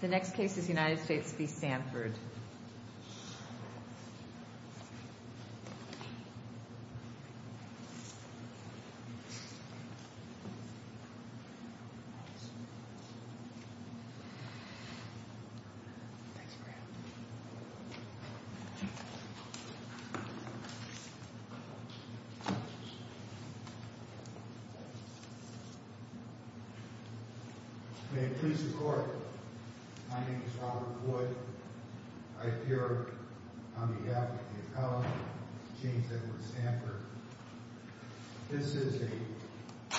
The next case is United States v. Sandford My name is Robert Wood. I appear on behalf of the appellant, James Edward Sandford. This is the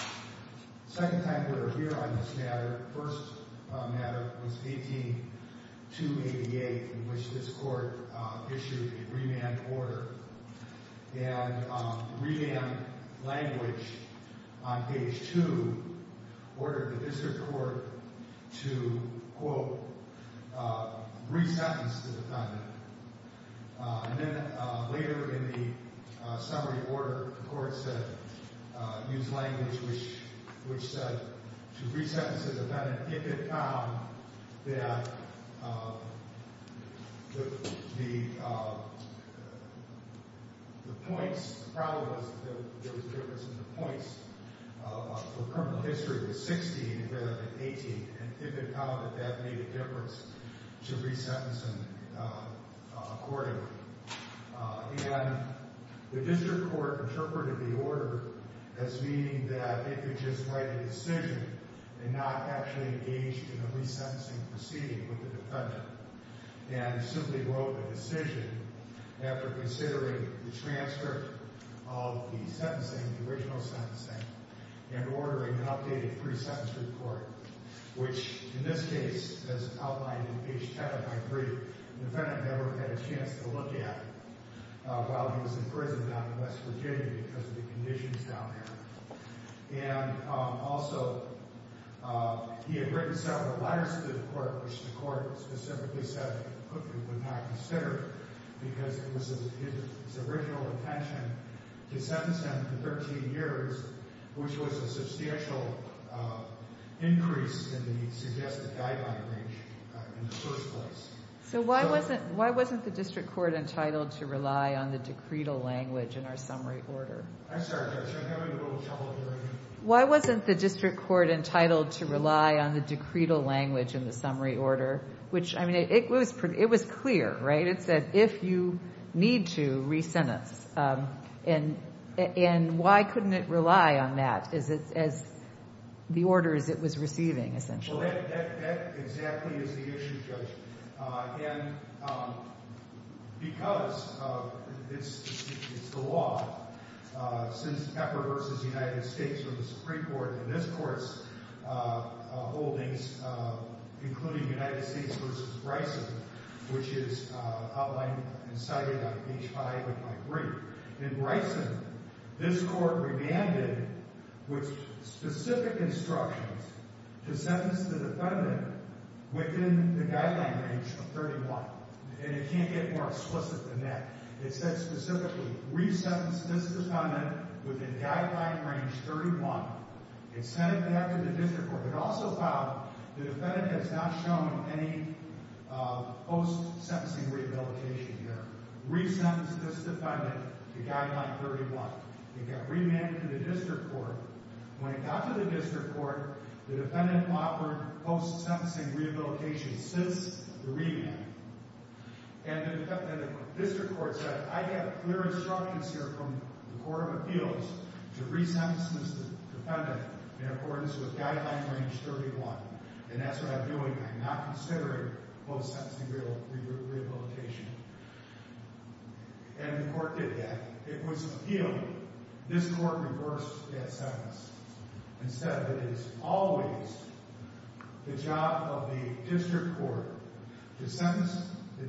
second time we are here on this matter. The first matter was 18-288 in which this court issued a remand order. The remand language on page 2 ordered the district court to, quote, re-sentence the defendant. And then later in the summary order, the court said, used language which said to re-sentence the defendant if it found that the points, the problem was that there was a difference in the points. The current history was 16 rather than 18. And if it found that that made a difference, to re-sentence him accordingly. And the district court interpreted the order as meaning that it could just write a decision and not actually engage in a re-sentencing proceeding with the defendant. And simply wrote a decision after considering the transcript of the sentencing, the original sentencing, and ordering an updated pre-sentence report. Which, in this case, as outlined in page 10 of my brief, the defendant never had a chance to look at while he was in prison down in West Virginia because of the conditions down there. And also, he had written several letters to the court, which the court specifically said it would not consider because it was his original intention to sentence him to 13 years, which was a substantial increase in the suggested guideline range in the first place. So why wasn't the district court entitled to rely on the decretal language in our summary order? I'm sorry, Judge. I'm having a little trouble hearing you. Why wasn't the district court entitled to rely on the decretal language in the summary order? Which, I mean, it was clear, right? It said, if you need to, re-sentence. And why couldn't it rely on that as the orders it was receiving, essentially? Well, that exactly is the issue, Judge. And because it's the law, since Pepper v. United States or the Supreme Court in this court's holdings, including United States v. Bryson, which is outlined and cited on page 5 of my brief. In Bryson, this court remanded with specific instructions to sentence the defendant within the guideline range of 31. And it can't get more explicit than that. It said specifically, re-sentence this defendant within guideline range 31 and send it back to the district court. It also found the defendant has not shown any post-sentencing rehabilitation here. Re-sentence this defendant to guideline 31. It got remanded to the district court. When it got to the district court, the defendant offered post-sentencing rehabilitation since the remand. And the district court said, I have clear instructions here from the Court of Appeals to re-sentence this defendant in accordance with guideline range 31. And that's what I'm doing. I'm not considering post-sentencing rehabilitation. And the court did that. It was an appeal. This court reversed that sentence and said it is always the job of the district court to sentence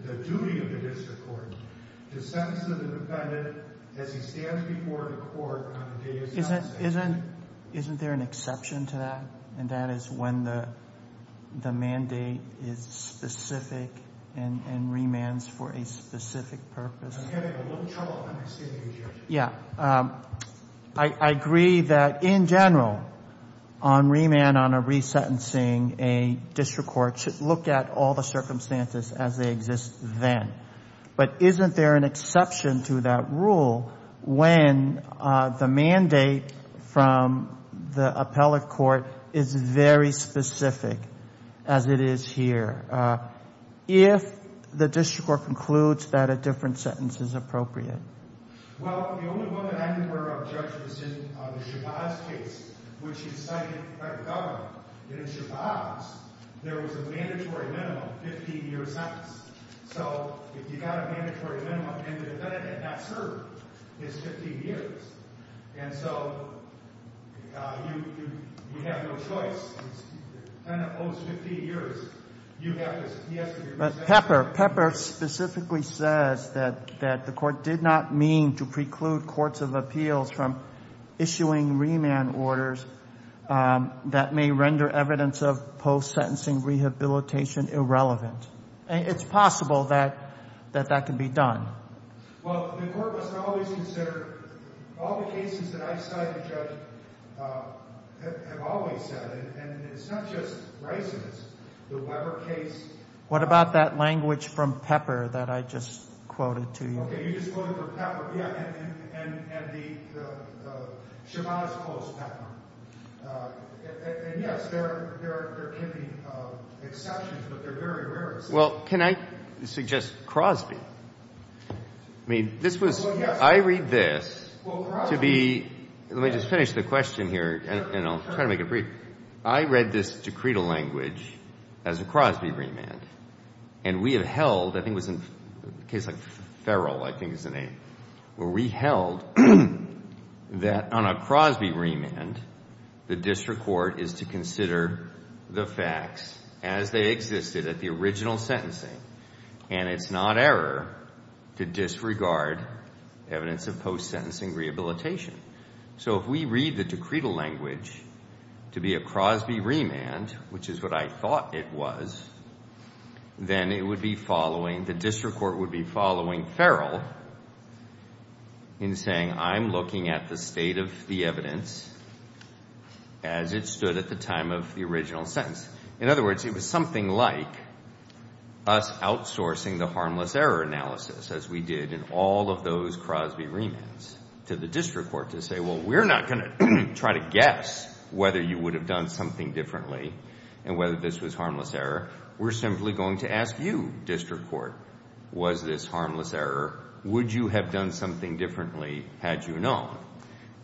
the duty of the district court to sentence the defendant as he stands before the court on the day he is not sentenced. Isn't there an exception to that? And that is when the mandate is specific and remands for a specific purpose. I'm having a little trouble understanding you. Yeah. I agree that, in general, on remand, on a re-sentencing, a district court should look at all the circumstances as they exist then. But isn't there an exception to that rule when the mandate from the appellate court is very specific, as it is here, if the district court concludes that a different sentence is appropriate? Well, the only one that I'm aware of, Judge, is in the Shabazz case, which he cited by the government. And in Shabazz, there was a mandatory minimum, 15-year sentence. So if you got a mandatory minimum and the defendant had not served his 15 years, and so you have no choice. But Pepper specifically says that the court did not mean to preclude courts of appeals from issuing remand orders that may render evidence of post-sentencing rehabilitation irrelevant. It's possible that that can be done. Well, the court must always consider all the cases that I've cited, Judge, have always said it. And it's not just Reisman. It's the Weber case. What about that language from Pepper that I just quoted to you? Okay, you just quoted from Pepper. Yeah, and the Shabazz post-Pepper. And, yes, there can be exceptions, but they're very rare exceptions. Well, can I suggest Crosby? I mean, this was – I read this to be – let me just finish the question here, and I'll try to make it brief. I read this decretal language as a Crosby remand, and we have held – I think it was in a case like Farrell, I think is the name – where we held that on a Crosby remand, the district court is to consider the facts as they existed at the original sentencing, and it's not error to disregard evidence of post-sentencing rehabilitation. So if we read the decretal language to be a Crosby remand, which is what I thought it was, then it would be following – the district court would be following Farrell in saying, I'm looking at the state of the evidence as it stood at the time of the original sentence. In other words, it was something like us outsourcing the harmless error analysis, as we did in all of those Crosby remands, to the district court to say, well, we're not going to try to guess whether you would have done something differently and whether this was harmless error. We're simply going to ask you, district court, was this harmless error? Would you have done something differently had you known?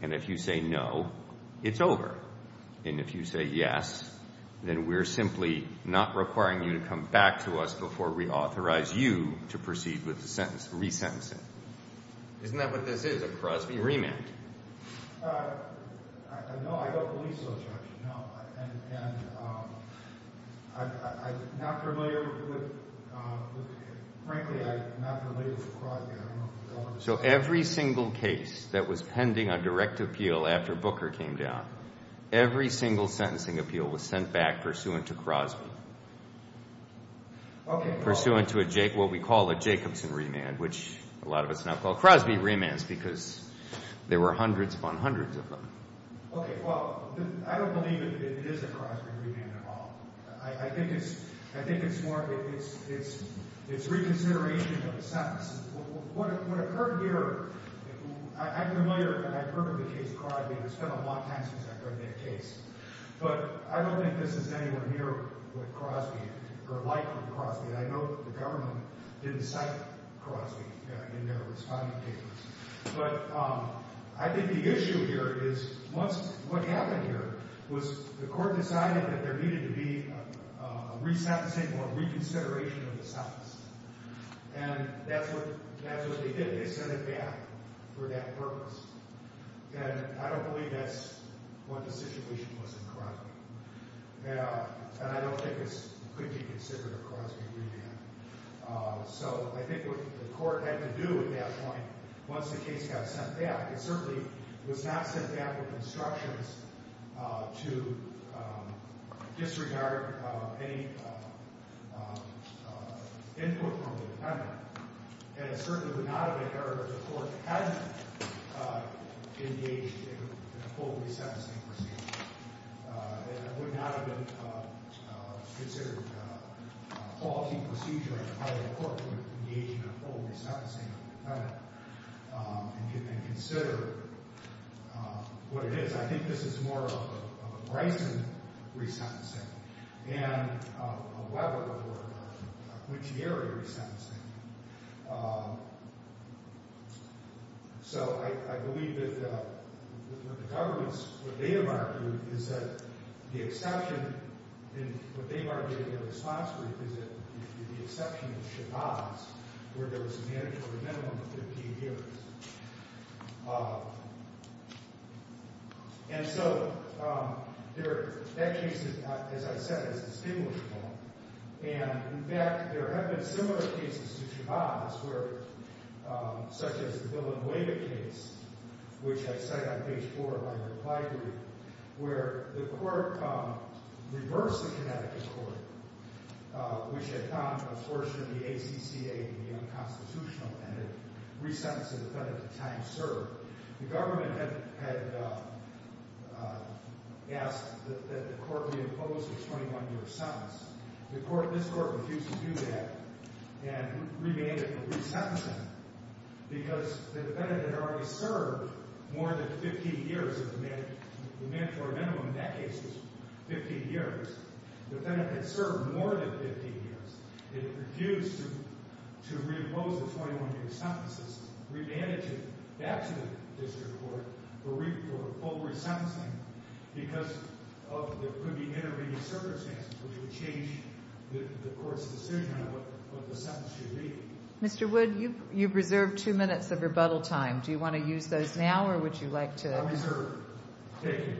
And if you say no, it's over. And if you say yes, then we're simply not requiring you to come back to us before we authorize you to proceed with the sentence – resentencing. Isn't that what this is, a Crosby remand? No, I don't believe so, Judge. No. And I'm not familiar with – frankly, I'm not familiar with Crosby. So every single case that was pending on direct appeal after Booker came down, every single sentencing appeal was sent back pursuant to Crosby, pursuant to what we call a Jacobson remand, which a lot of us now call Crosby remands because there were hundreds upon hundreds of them. Okay, well, I don't believe it is a Crosby remand at all. I think it's more – it's reconsideration of the sentence. What occurred here – I'm familiar and I've heard of the case of Crosby and I've spent a lot of time since I've heard of that case. But I don't think this is anywhere near what Crosby – or like what Crosby – I know the government didn't cite Crosby in their responding papers. But I think the issue here is what happened here was the court decided that there needed to be a resentencing or reconsideration of the sentence. And that's what they did. They sent it back for that purpose. And I don't believe that's what the situation was in Crosby. And I don't think this could be considered a Crosby remand. So I think what the court had to do at that point, once the case got sent back, it certainly was not sent back with instructions to disregard any input from the defendant. And it certainly would not have been fair if the court had engaged in a full resentencing procedure. And it would not have been considered a faulty procedure if the court would have engaged in a full resentencing of the defendant and considered what it is. I think this is more of a Bryson resentencing and a Weber or a Guglieri resentencing. So I believe that the government's – what they have argued is that the exception – and what they've argued in their response brief is that the exception in Shabazz, where there was a man for a minimum of 15 years. And so that case, as I said, is distinguishable. And, in fact, there have been similar cases to Shabazz where – such as the Villanueva case, which I cite on page 4 of my reply brief, where the court reversed the Connecticut court, which had found an absorption of the ACCA in the unconstitutional and had resentenced the defendant to time served. The government had asked that the court reimpose a 21-year sentence. The court – this court refused to do that and remained in a resentencing because the defendant had already served more than 15 years of the man – the man for a minimum in that case was 15 years. The defendant had served more than 15 years. It refused to reimpose the 21-year sentences, remanded it back to the district court for full resentencing because there could be intervening circumstances which would change the court's decision on what the sentence should be. Mr. Wood, you've reserved two minutes of rebuttal time. Do you want to use those now or would you like to – I'll reserve. Thank you.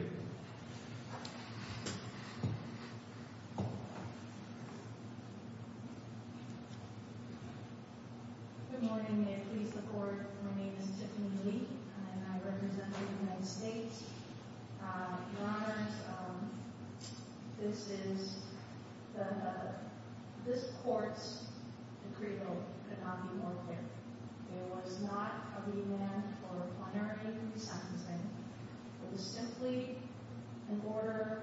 Good morning. May it please the Court, my name is Tiffany Lee and I represent the United States. Your Honors, this is – this court's decree vote could not be more clear. It was not a remand for a plenary sentencing. It was simply an order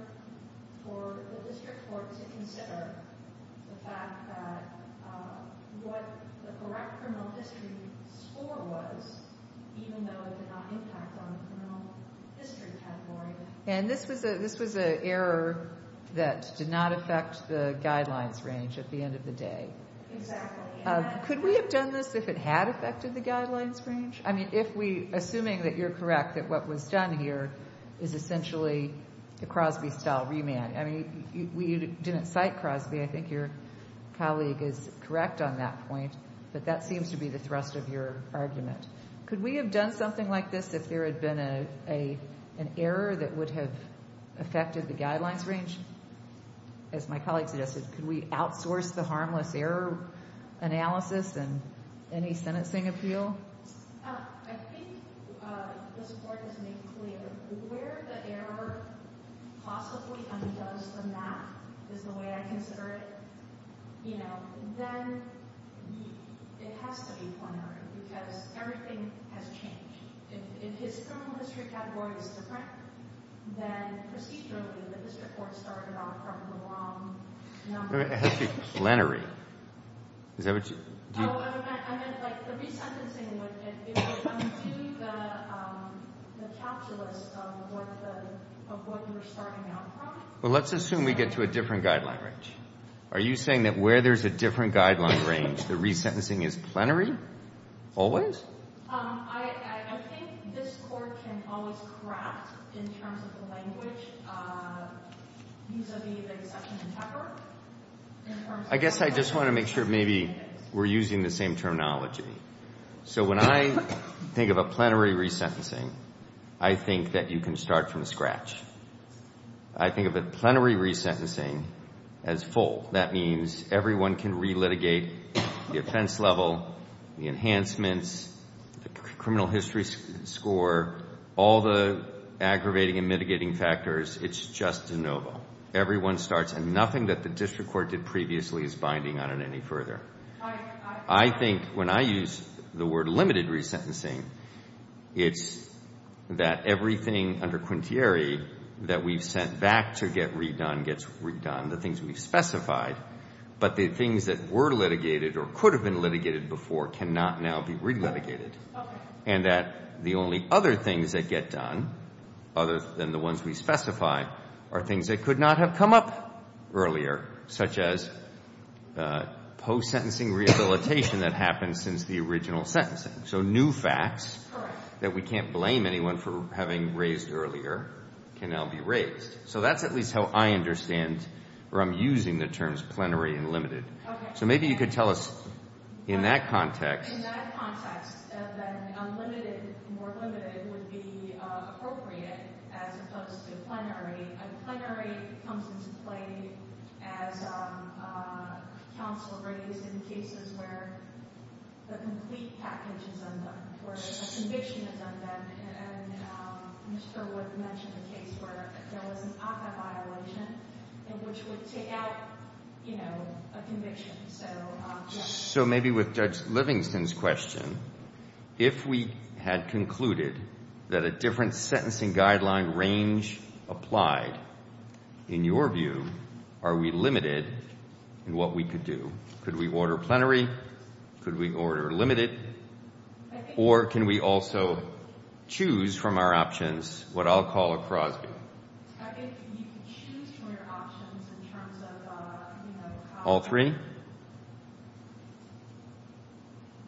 for the district court to consider the fact that what the correct criminal history score was, even though it did not impact on the criminal history category. And this was an error that did not affect the guidelines range at the end of the day. Exactly. Could we have done this if it had affected the guidelines range? I mean, if we – assuming that you're correct, that what was done here is essentially a Crosby-style remand. I mean, we didn't cite Crosby. I think your colleague is correct on that point, but that seems to be the thrust of your argument. Could we have done something like this if there had been an error that would have affected the guidelines range? As my colleague suggested, could we outsource the harmless error analysis and any sentencing appeal? I think this Court has made clear where the error possibly undoes the math is the way I consider it. You know, then it has to be plenary because everything has changed. If his criminal history category is different, then procedurally the district court started off from the wrong number. It has to be plenary. Is that what you – do you – Oh, I meant like the resentencing would undo the calculus of what the – of what you were starting out from. Well, let's assume we get to a different guideline range. Are you saying that where there's a different guideline range, the resentencing is plenary always? I think this Court can always correct in terms of the language vis-à-vis the exception in Pepper in terms of – I guess I just want to make sure maybe we're using the same terminology. So when I think of a plenary resentencing, I think that you can start from scratch. I think of a plenary resentencing as full. That means everyone can relitigate the offense level, the enhancements, the criminal history score, all the aggravating and mitigating factors. It's just de novo. Everyone starts. And nothing that the district court did previously is binding on it any further. I think when I use the word limited resentencing, it's that everything under quintieri that we've sent back to get redone gets redone, the things we've specified. But the things that were litigated or could have been litigated before cannot now be relitigated. And that the only other things that get done, other than the ones we specified, are things that could not have come up earlier, such as post-sentencing rehabilitation that happens since the original sentencing. So new facts that we can't blame anyone for having raised earlier can now be raised. So that's at least how I understand or I'm using the terms plenary and limited. So maybe you could tell us in that context. More limited would be appropriate as opposed to plenary. And plenary comes into play as counsel raised in cases where the complete package is undone, where a conviction is undone. And Mr. Wood mentioned a case where there was an APA violation which would take out a conviction. So maybe with Judge Livingston's question, if we had concluded that a different sentencing guideline range applied, in your view, are we limited in what we could do? Could we order plenary? Could we order limited? Or can we also choose from our options what I'll call a Crosby? I think you could choose from your options in terms of... All three?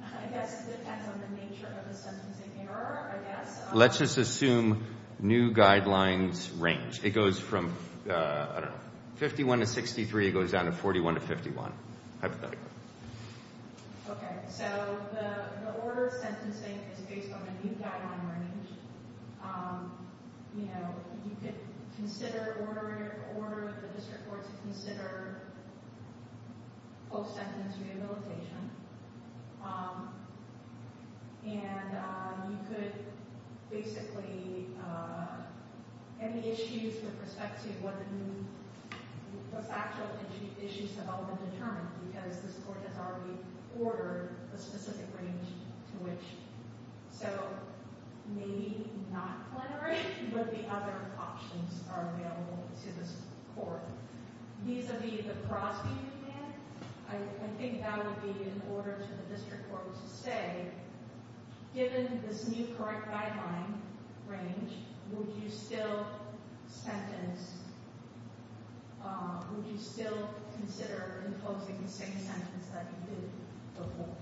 I guess it depends on the nature of the sentencing error, I guess. Let's just assume new guidelines range. It goes from 51 to 63. It goes down to 41 to 51, hypothetically. Okay, so the order of sentencing is based on the new guideline range. You know, you could consider... Order the district court to consider post-sentence rehabilitation. And you could basically... Any issues with respect to what the new... What factual issues have all been determined because this court has already ordered a specific range to which. So, maybe not plenary, but the other options are available to this court. Vis-a-vis the Crosby you get, I think that would be an order to the district court to say, given this new correct guideline range, would you still sentence... Would you still consider imposing the same sentence that you did before?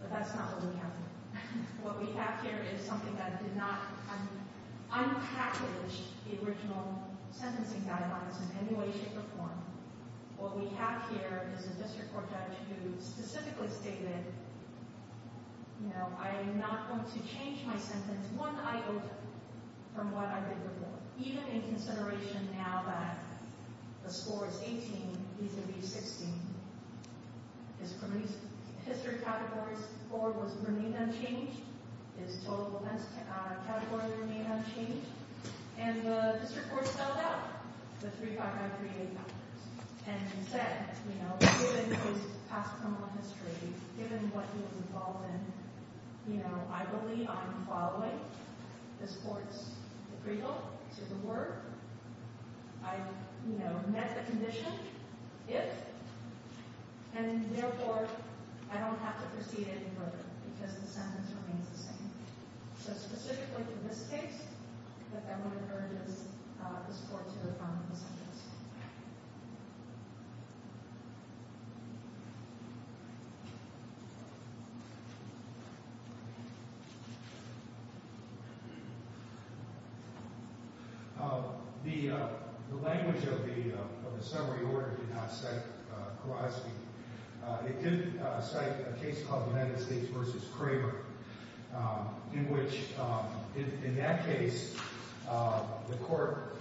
But that's not what we have here. What we have here is something that did not... Unpackaged the original sentencing guidelines in any way, shape, or form. What we have here is a district court judge who specifically stated, you know, I am not going to change my sentence one item from what I did before. Even in consideration now that the score is 18, he's going to be 16. His criminal history category score was remained unchanged. His total events category remained unchanged. And the district court spelled out the 35938 factors. And said, you know, given his past criminal history, given what he was involved in, you know, I believe I'm following this court's approval to the work. I, you know, met the condition, if, and therefore, I don't have to proceed any further because the sentence remains the same. So specifically for this case, I want to encourage this court to reform the sentence. The language of the summary order did not cite Kowalski. It did cite a case called United States v. Kramer. In which, in that case, the court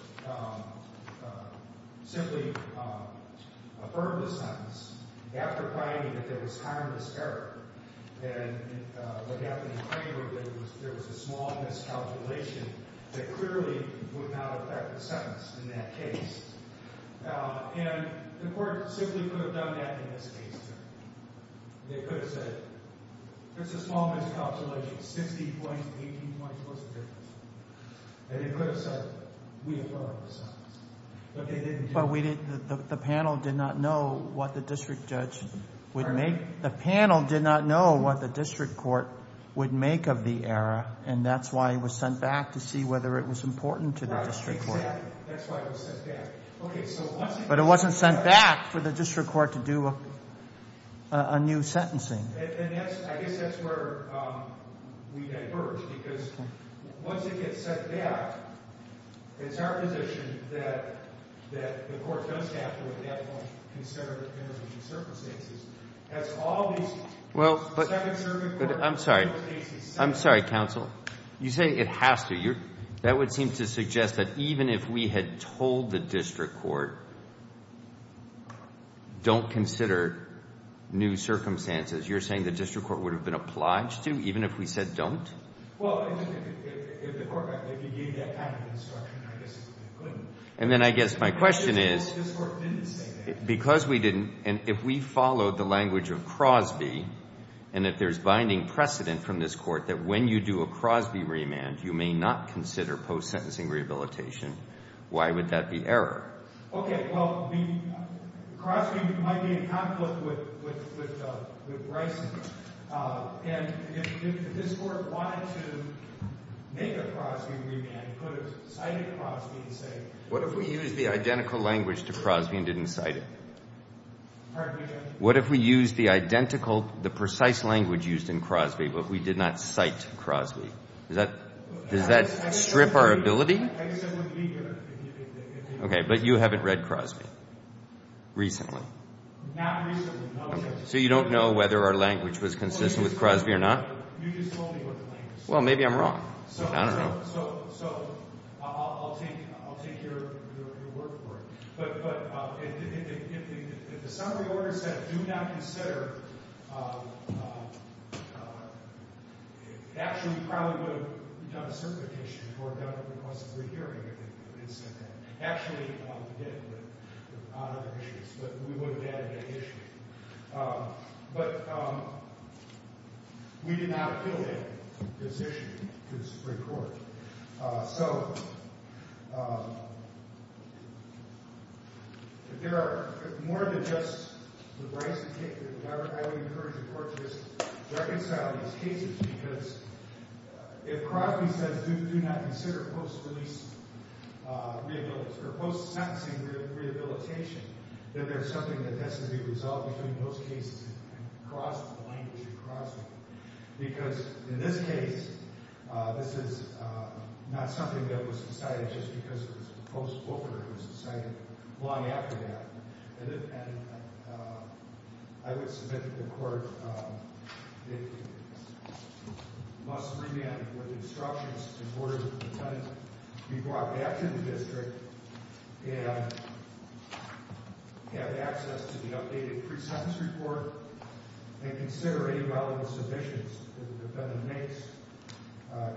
simply affirmed the sentence after finding that there was harmless error. And what happened in Kramer, there was a small miscalculation that clearly would not affect the sentence in that case. And the court simply could have done that in this case. They could have said, it's a small miscalculation, 16 points, 18 points, what's the difference? And they could have said, we affirm the sentence. But the panel did not know what the district judge would make. The panel did not know what the district court would make of the error. And that's why it was sent back to see whether it was important to the district court. That's why it was sent back. But it wasn't sent back for the district court to do a new sentencing. And I guess that's where we diverge. Because once it gets sent back, it's our position that the court does have to, at that point, consider the circumstances. As all these second-serving court cases... I'm sorry. I'm sorry, counsel. You're saying it has to. That would seem to suggest that even if we had told the district court, don't consider new circumstances, you're saying the district court would have been obliged to, even if we said don't? Well, if the court gave that kind of instruction, I guess it would have been good. And then I guess my question is, because we didn't, and if we followed the language of Crosby, and if there's binding precedent from this court that when you do a Crosby remand, you may not consider post-sentencing rehabilitation, why would that be error? Okay, well, Crosby might be in conflict with Bryson. And if this court wanted to make a Crosby remand, could have cited Crosby and say... What if we used the identical language to Crosby and didn't cite it? Pardon me, Judge? What if we used the identical, the precise language used in Crosby, but we did not cite Crosby? Does that strip our ability? I guess that would be good. Okay, but you haven't read Crosby recently. Not recently, no. So you don't know whether our language was consistent with Crosby or not? Well, maybe I'm wrong. I don't know. But we did not fill in this issue to the Supreme Court. So there are more than just the Bryson case. I would encourage the court to just reconcile these cases because if Crosby says do not consider post-release rehabilitation, or post-sentencing rehabilitation, then there's something that has to be resolved between those cases and Crosby, the language of Crosby. Because in this case, this is not something that was decided just because it was a post-offer. It was decided long after that. And I would submit to the court it must remand with instructions in order to be brought back to the district and have access to the updated pre-sentence report and consider any relevant submissions that the defendant makes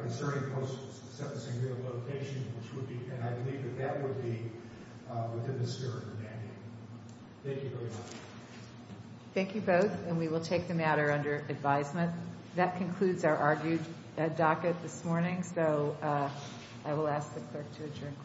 concerning post-sentencing rehabilitation, which would be, and I believe that that would be, within the spirit of remanding. Thank you very much. Thank you both, and we will take the matter under advisement. That concludes our argued docket this morning, so I will ask the clerk to adjourn. Thank you. Thank you.